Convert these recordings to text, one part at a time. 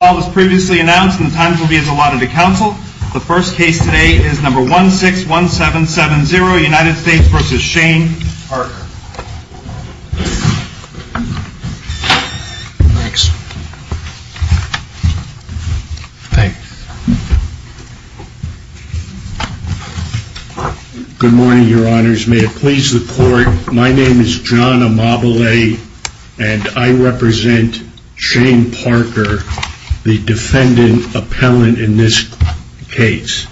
All was previously announced and the times will be as allotted to counsel. The first case today is number 161770, United States v. Shane Parker. Thanks. Thanks. Good morning, your honors. May it please the court, my name is John Amabile and I represent Shane Parker, the defendant appellant in this case.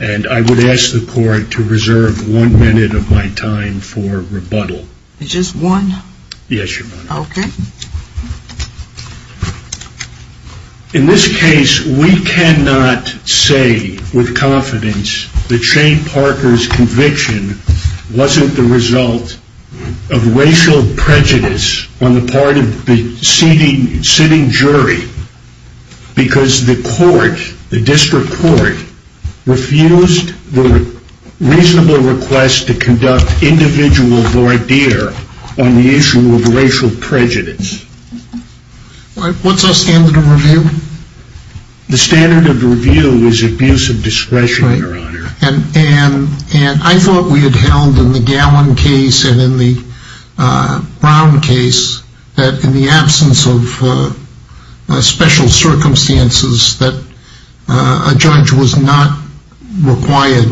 And I would ask the court to reserve one minute of my time for rebuttal. Just one? Yes, your honor. Okay. In this case, we cannot say with confidence that Shane Parker's conviction wasn't the result of racial prejudice on the part of the sitting jury. Because the court, the district court, refused the reasonable request to conduct individual voir dire on the issue of racial prejudice. What's our standard of review? The standard of review is abuse of discretion, your honor. And I thought we had held in the Gallin case and in the Brown case that in the absence of special circumstances that a judge was not required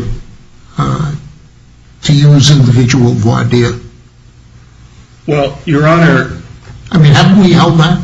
to use individual voir dire. Well, your honor. I mean, haven't we held that?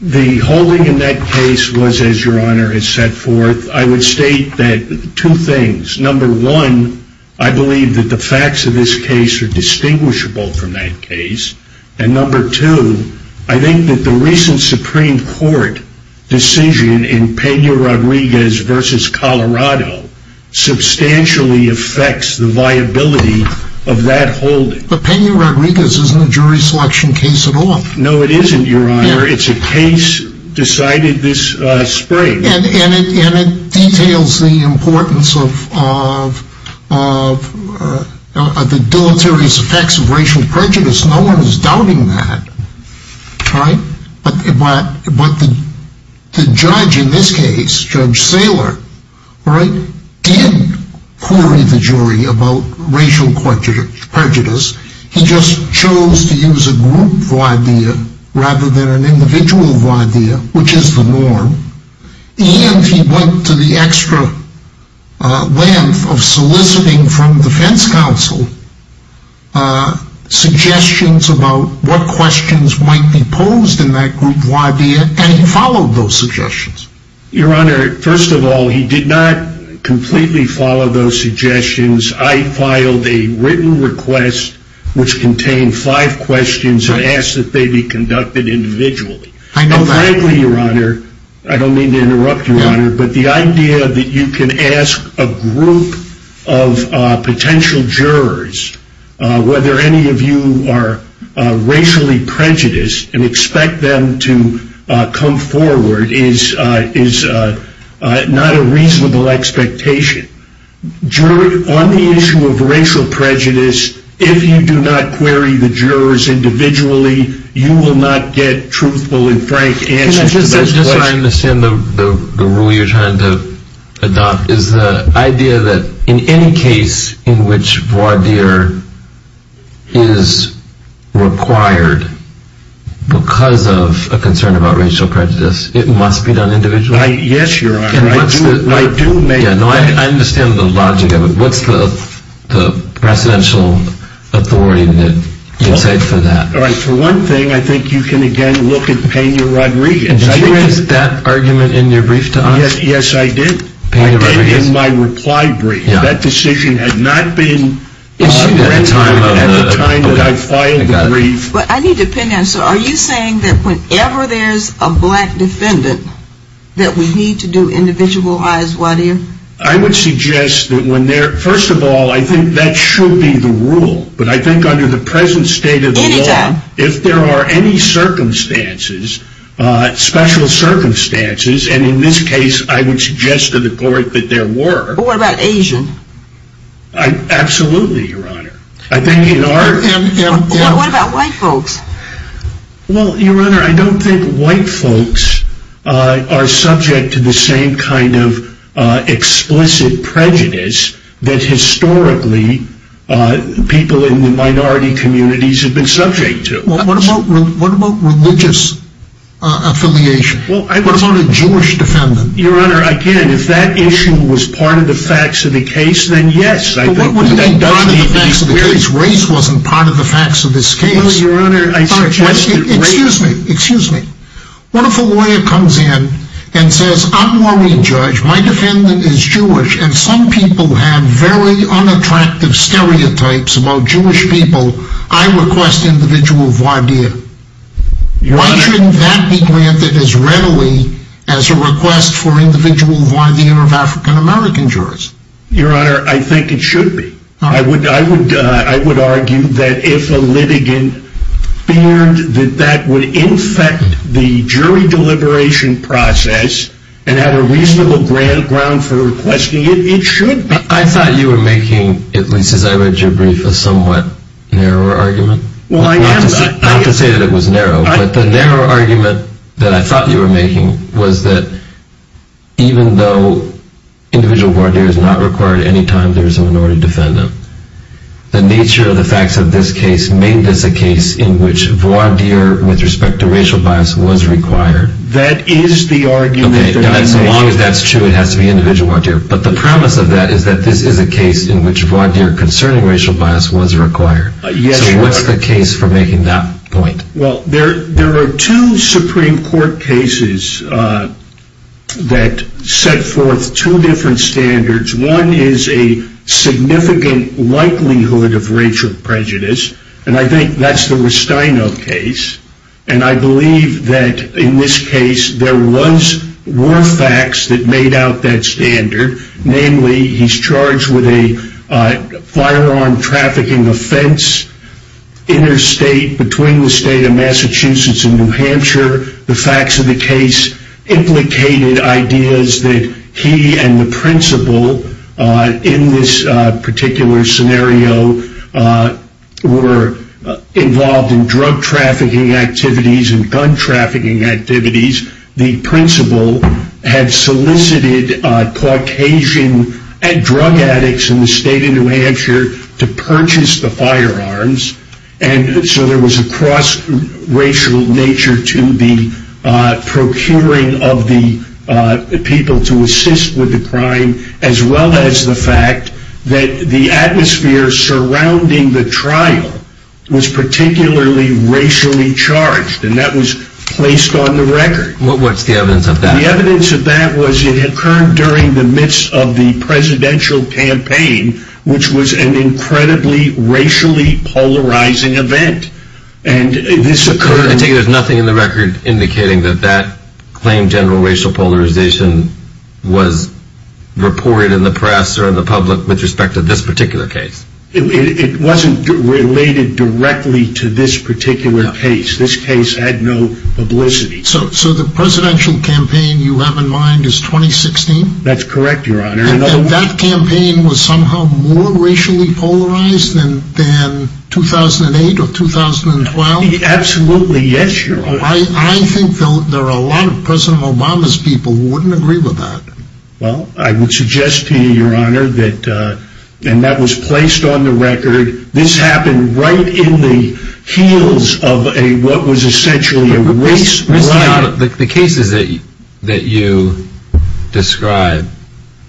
The holding in that case was, as your honor has set forth, I would state that two things. Number one, I believe that the facts of this case are distinguishable from that case. And number two, I think that the recent Supreme Court decision in Pena-Rodriguez v. Colorado substantially affects the viability of that holding. But Pena-Rodriguez isn't a jury selection case at all. No, it isn't, your honor. It's a case decided this spring. And it details the importance of the deleterious effects of racial prejudice. No one is doubting that. But the judge in this case, Judge Saylor, did query the jury about racial prejudice. He just chose to use a group voir dire rather than an individual voir dire, which is the norm. And he went to the extra length of soliciting from defense counsel suggestions about what questions might be posed in that group voir dire. And he followed those suggestions. Your honor, first of all, he did not completely follow those suggestions. I filed a written request which contained five questions and asked that they be conducted individually. Frankly, your honor, I don't mean to interrupt your honor, but the idea that you can ask a group of potential jurors whether any of you are racially prejudiced and expect them to come forward is not a reasonable expectation. On the issue of racial prejudice, if you do not query the jurors individually, you will not get truthful and frank answers to those questions. What I understand the rule you're trying to adopt is the idea that in any case in which voir dire is required because of a concern about racial prejudice, it must be done individually. Yes, your honor. I understand the logic of it. What's the presidential authority that you would say for that? For one thing, I think you can again look at Pena Rodriguez. Did you raise that argument in your brief to us? Yes, I did. I did in my reply brief. That decision had not been issued at the time that I filed the brief. I need to pin down. Are you saying that whenever there's a black defendant that we need to do individualized voir dire? I would suggest that when there, first of all, I think that should be the rule. But I think under the present state of the law, if there are any circumstances, special circumstances, and in this case I would suggest to the court that there were. What about Asian? Absolutely, your honor. What about white folks? Well, your honor, I don't think white folks are subject to the same kind of explicit prejudice that historically people in the minority communities have been subject to. What about religious affiliation? What about a Jewish defendant? Your honor, again, if that issue was part of the facts of the case, then yes. But what would be part of the facts of the case? Race wasn't part of the facts of this case. Well, your honor, I suggested race. Excuse me. Excuse me. What if a lawyer comes in and says, I'm worried, Judge, my defendant is Jewish and some people have very unattractive stereotypes about Jewish people. I request individual voir dire. Why shouldn't that be granted as readily as a request for individual voir dire of African American jurors? Your honor, I think it should be. I would argue that if a litigant feared that that would infect the jury deliberation process and have a reasonable ground for requesting it, it should be. I thought you were making, at least as I read your brief, a somewhat narrower argument. Well, I am. I hate to say that it was narrow, but the narrow argument that I thought you were making was that even though individual voir dire is not required any time there is a minority defendant, the nature of the facts of this case made this a case in which voir dire with respect to racial bias was required. That is the argument. As long as that's true, it has to be individual voir dire. But the premise of that is that this is a case in which voir dire concerning racial bias was required. Yes, your honor. So what's the case for making that point? Well, there are two Supreme Court cases that set forth two different standards. One is a significant likelihood of racial prejudice, and I think that's the Restaino case. And I believe that in this case there were facts that made out that standard. Namely, he's charged with a firearm trafficking offense interstate between the state of Massachusetts and New Hampshire. The facts of the case implicated ideas that he and the principal in this particular scenario were involved in drug trafficking activities and gun trafficking activities. The principal had solicited Caucasian drug addicts in the state of New Hampshire to purchase the firearms. And so there was a cross-racial nature to the procuring of the people to assist with the crime as well as the fact that the atmosphere surrounding the trial was particularly racially charged. And that was placed on the record. What's the evidence of that? The evidence of that was it occurred during the midst of the presidential campaign, which was an incredibly racially polarizing event. I take it there's nothing in the record indicating that that claim, general racial polarization, was reported in the press or in the public with respect to this particular case? It wasn't related directly to this particular case. This case had no publicity. So the presidential campaign you have in mind is 2016? That's correct, Your Honor. And that campaign was somehow more racially polarized than 2008 or 2012? Absolutely, yes, Your Honor. I think there are a lot of President Obama's people who wouldn't agree with that. Well, I would suggest to you, Your Honor, that that was placed on the record. This happened right in the heels of what was essentially a race riot. The cases that you describe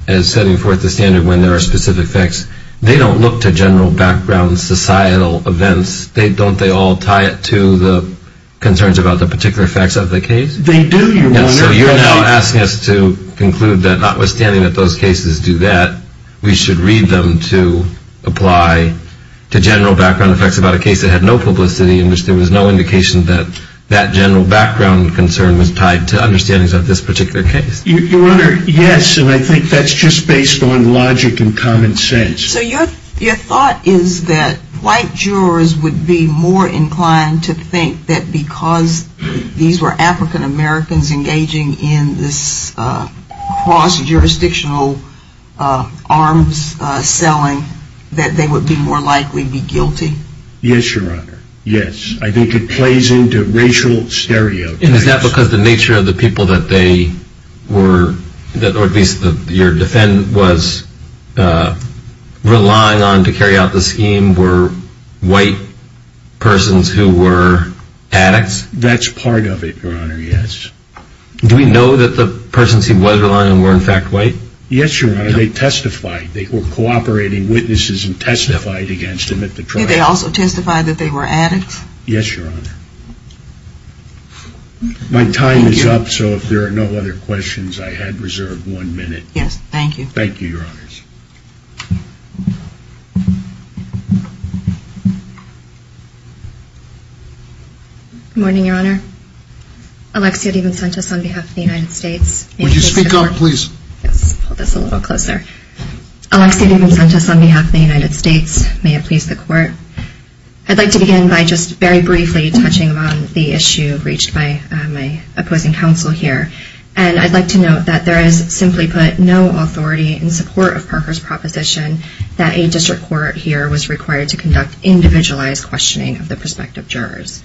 as setting forth the standard when there are specific facts, they don't look to general background societal events. Don't they all tie it to the concerns about the particular facts of the case? They do, Your Honor. So you're now asking us to conclude that notwithstanding that those cases do that, we should read them to apply to general background effects about a case that had no publicity and which there was no indication that that general background concern was tied to understandings of this particular case? Your Honor, yes. And I think that's just based on logic and common sense. So your thought is that white jurors would be more inclined to think that because these were African-Americans engaging in this cross-jurisdictional arms selling that they would be more likely to be guilty? Yes, Your Honor. Yes. I think it plays into racial stereotypes. And is that because the nature of the people that they were, or at least your defendant was relying on to carry out the scheme were white persons who were addicts? That's part of it, Your Honor, yes. Do we know that the persons he was relying on were in fact white? Yes, Your Honor. They testified. They were cooperating witnesses and testified against him at the trial. Did they also testify that they were addicts? Yes, Your Honor. My time is up, so if there are no other questions, I had reserved one minute. Yes, thank you. Thank you, Your Honors. Good morning, Your Honor. Alexia DiVincentis on behalf of the United States. Would you speak up, please? Yes, I'll hold this a little closer. Alexia DiVincentis on behalf of the United States. May it please the Court. I'd like to begin by just very briefly touching on the issue reached by my opposing counsel here. And I'd like to note that there is simply put no authority in support of Parker's proposition that a district court here was required to conduct individualized questioning of the prospective jurors.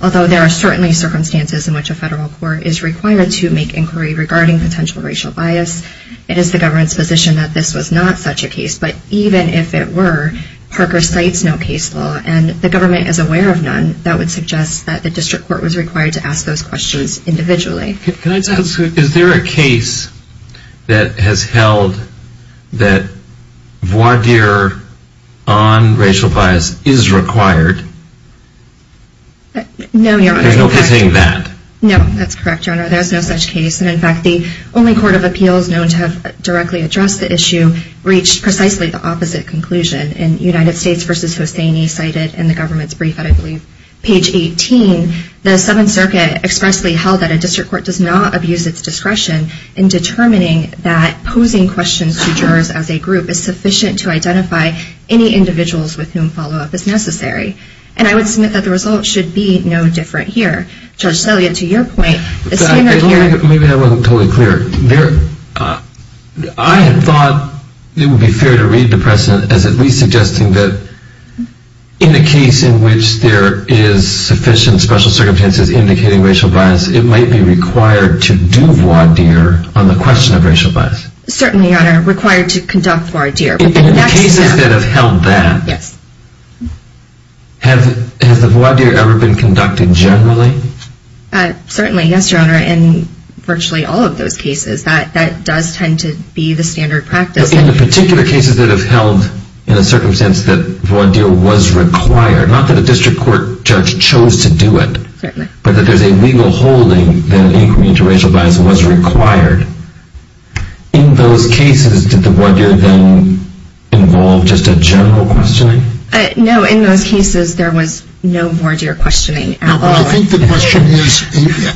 Although there are certainly circumstances in which a federal court is required to make inquiry regarding potential racial bias, it is the government's position that this was not such a case. But even if it were, Parker cites no case law and the government is aware of none that would suggest that the district court was required to ask those questions individually. Can I just ask, is there a case that has held that voir dire on racial bias is required? No, Your Honor. There's no hitting that. No, that's correct, Your Honor. No, there's no such case. And in fact, the only court of appeals known to have directly addressed the issue reached precisely the opposite conclusion. In United States v. Hussaini, cited in the government's brief on, I believe, page 18, the Seventh Circuit expressly held that a district court does not abuse its discretion in determining that posing questions to jurors as a group is sufficient to identify any individuals with whom follow-up is necessary. And I would submit that the result should be no different here. Judge Celia, to your point, the standard here… Maybe I wasn't totally clear. I had thought it would be fair to read the precedent as at least suggesting that in a case in which there is sufficient special circumstances indicating racial bias, it might be required to do voir dire on the question of racial bias. Certainly, Your Honor. Required to conduct voir dire. In the cases that have held that, has the voir dire ever been conducted generally? Certainly, yes, Your Honor. In virtually all of those cases, that does tend to be the standard practice. In the particular cases that have held in a circumstance that voir dire was required, not that a district court judge chose to do it, but that there's a legal holding that an inquiry into racial bias was required, in those cases did the voir dire then involve just a general questioning? No, in those cases there was no voir dire questioning at all. I think the question is,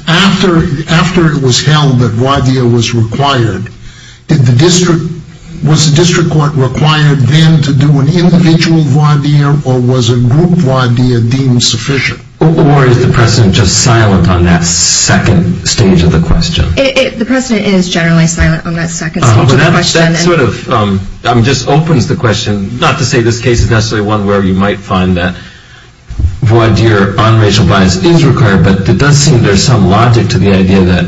after it was held that voir dire was required, was the district court required then to do an individual voir dire or was a group voir dire deemed sufficient? Or is the precedent just silent on that second stage of the question? The precedent is generally silent on that second stage of the question. That sort of just opens the question, not to say this case is necessarily one where you might find that voir dire on racial bias is required, but it does seem there's some logic to the idea that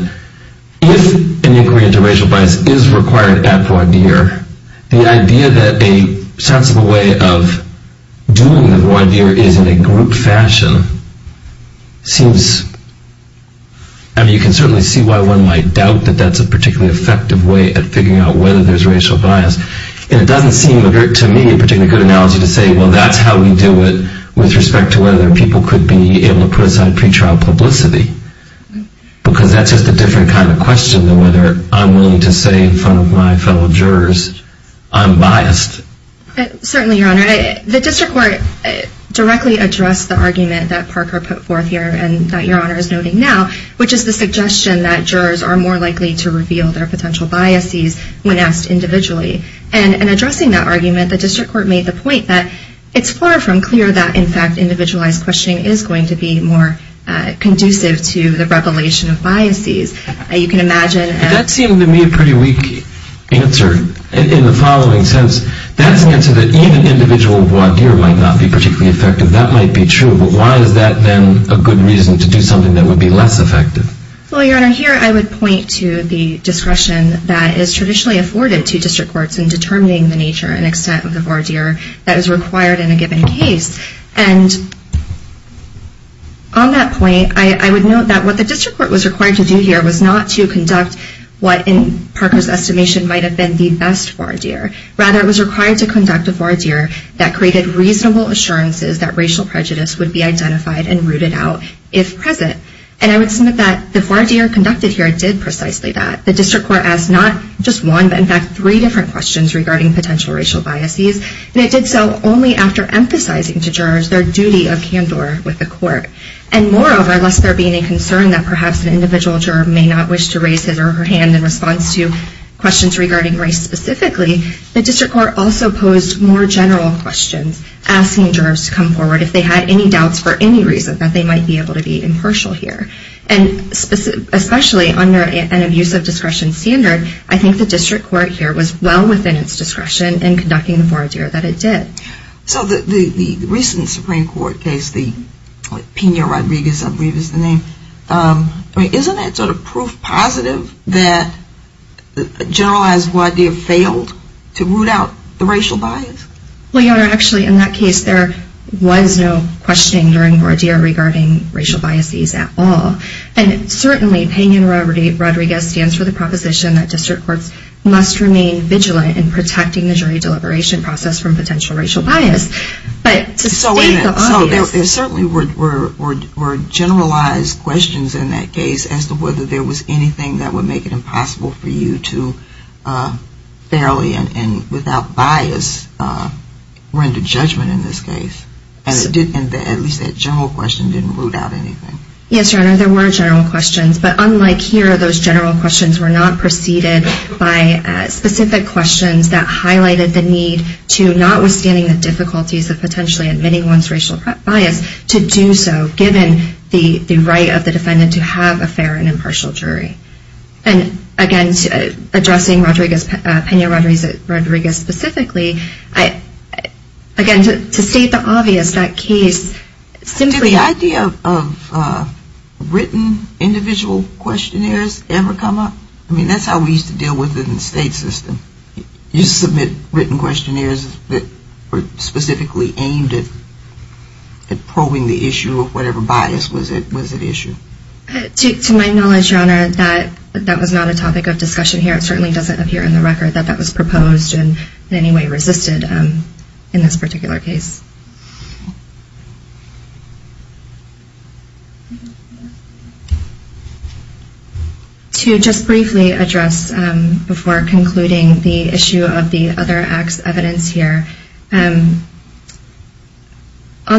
if an inquiry into racial bias is required at voir dire, the idea that a sensible way of doing the voir dire is in a group fashion seems, I mean you can certainly see why one might doubt that that's a particularly effective way of figuring out whether there's racial bias. And it doesn't seem to me a particularly good analogy to say, well that's how we do it with respect to whether people could be able to put aside pre-trial publicity. Because that's just a different kind of question than whether I'm willing to say in front of my fellow jurors, I'm biased. Certainly, Your Honor. The district court directly addressed the argument that Parker put forth here and that Your Honor is noting now, which is the suggestion that jurors are more likely to reveal their potential biases when asked individually. And in addressing that argument, the district court made the point that it's far from clear that, in fact, individualized questioning is going to be more conducive to the revelation of biases. You can imagine. But that seemed to me a pretty weak answer in the following sense. That's an answer that even individual voir dire might not be particularly effective. That might be true, but why is that then a good reason to do something that would be less effective? Well, Your Honor, here I would point to the discretion that is traditionally afforded to district courts in determining the nature and extent of the voir dire that is required in a given case. And on that point, I would note that what the district court was required to do here was not to conduct what in Parker's estimation might have been the best voir dire. Rather, it was required to conduct a voir dire that created reasonable assurances that racial prejudice would be identified and rooted out if present. And I would submit that the voir dire conducted here did precisely that. The district court asked not just one, but, in fact, three different questions regarding potential racial biases. And it did so only after emphasizing to jurors their duty of candor with the court. And, moreover, lest there be any concern that perhaps an individual juror may not wish to raise his or her hand in response to questions regarding race specifically, the district court also posed more general questions, asking jurors to come forward if they had any doubts for any reason that they might be able to be impartial here. And especially under an abuse of discretion standard, I think the district court here was well within its discretion in conducting the voir dire that it did. So the recent Supreme Court case, the Pena-Rodriguez, I believe is the name, isn't that sort of proof positive that generalized voir dire failed to root out the racial bias? Well, Your Honor, actually, in that case, there was no questioning during voir dire regarding racial biases at all. And, certainly, Pena-Rodriguez stands for the proposition that district courts must remain vigilant in protecting the jury deliberation process from potential racial bias. So there certainly were generalized questions in that case as to whether there was anything that would make it impossible for you to fairly and without bias render judgment in this case. And at least that general question didn't root out anything. Yes, Your Honor, there were general questions. But unlike here, those general questions were not preceded by specific questions that highlighted the need to, notwithstanding the difficulties of potentially admitting one's racial bias, to do so given the right of the defendant to have a fair and impartial jury. And, again, addressing Pena-Rodriguez specifically, again, to state the obvious, that case simply Did the idea of written individual questionnaires ever come up? I mean, that's how we used to deal with it in the state system. You submit written questionnaires that were specifically aimed at probing the issue of whatever bias was at issue. To my knowledge, Your Honor, that was not a topic of discussion here. It certainly doesn't appear in the record that that was proposed and in any way resisted in this particular case. To just briefly address before concluding the issue of the other acts' evidence here, on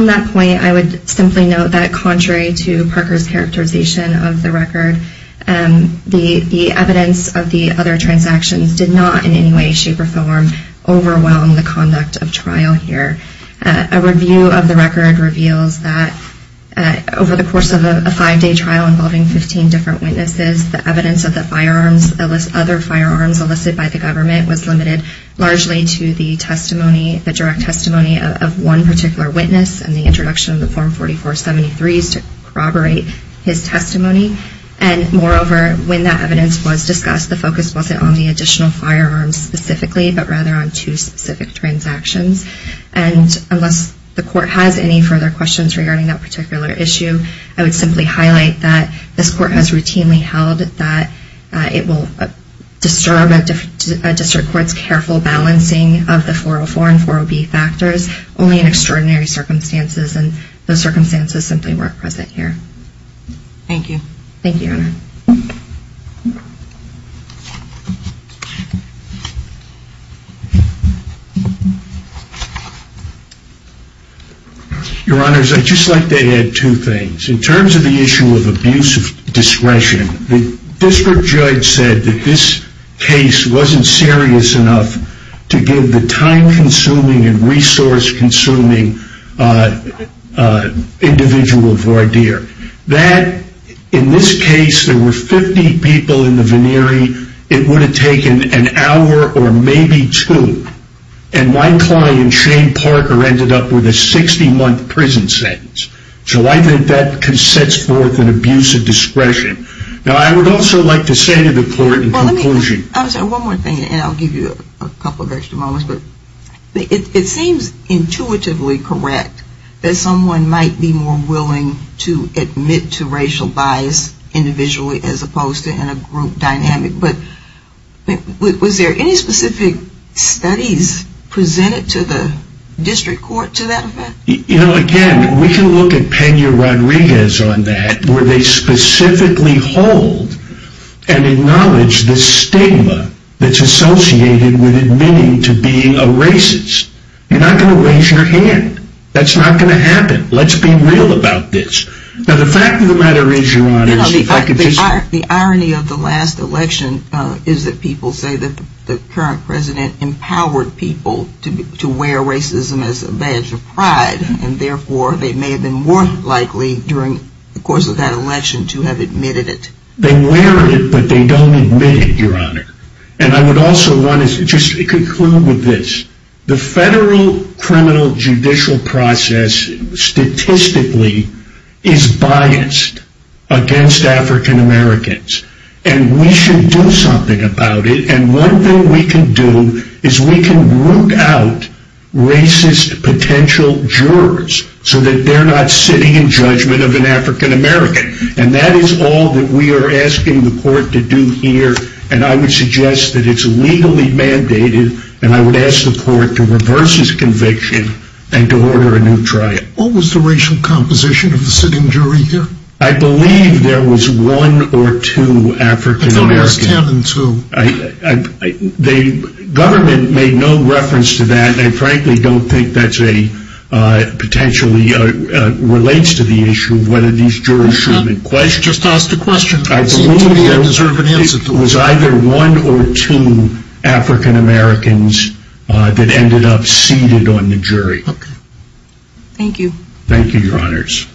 that point, I would simply note that contrary to Parker's characterization of the record, the evidence of the other transactions did not in any way, shape, or form overwhelm the conduct of trial here. A review of the record reveals that over the course of a five-day trial involving 15 different witnesses, the evidence of the other firearms elicited by the government was limited largely to the testimony, the direct testimony of one particular witness and the introduction of the Form 4473s to corroborate his testimony. Moreover, when that evidence was discussed, the focus wasn't on the additional firearms specifically, but rather on two specific transactions. Unless the Court has any further questions regarding that particular issue, I would simply highlight that this Court has routinely held that it will disturb a district court's careful balancing of the 404 and 40B factors, only in extraordinary circumstances, and those circumstances simply weren't present here. Thank you. Thank you, Your Honor. Your Honors, I'd just like to add two things. In terms of the issue of abuse of discretion, the district judge said that this case wasn't serious enough to give the time-consuming and resource-consuming individual a voir dire. That, in this case, there were 50 people in the veneery. It would have taken an hour or maybe two. And my client, Shane Parker, ended up with a 60-month prison sentence. So I think that sets forth an abuse of discretion. Now, I would also like to say to the Court in conclusion… One more thing, and I'll give you a couple of extra moments. It seems intuitively correct that someone might be more willing to admit to racial bias individually as opposed to in a group dynamic. But was there any specific studies presented to the district court to that effect? You know, again, we can look at Peña Rodriguez on that, where they specifically hold and acknowledge the stigma that's associated with admitting to being a racist. You're not going to raise your hand. That's not going to happen. Let's be real about this. Now, the fact of the matter is, Your Honor… The irony of the last election is that people say that the current president empowered people to wear racism as a badge of pride, and therefore they may have been more likely during the course of that election to have admitted it. They wear it, but they don't admit it, Your Honor. And I would also want to just conclude with this. The federal criminal judicial process statistically is biased against African Americans, and we should do something about it. And one thing we can do is we can root out racist potential jurors so that they're not sitting in judgment of an African American. And that is all that we are asking the Court to do here, and I would suggest that it's legally mandated, and I would ask the Court to reverse its conviction and to order a new trial. What was the racial composition of the sitting jury here? I believe there was one or two African Americans. I thought it was ten and two. The government made no reference to that, and I frankly don't think that potentially relates to the issue of whether these jurors should be questioned. I believe it was either one or two African Americans that ended up seated on the jury. Thank you. Thank you, Your Honors.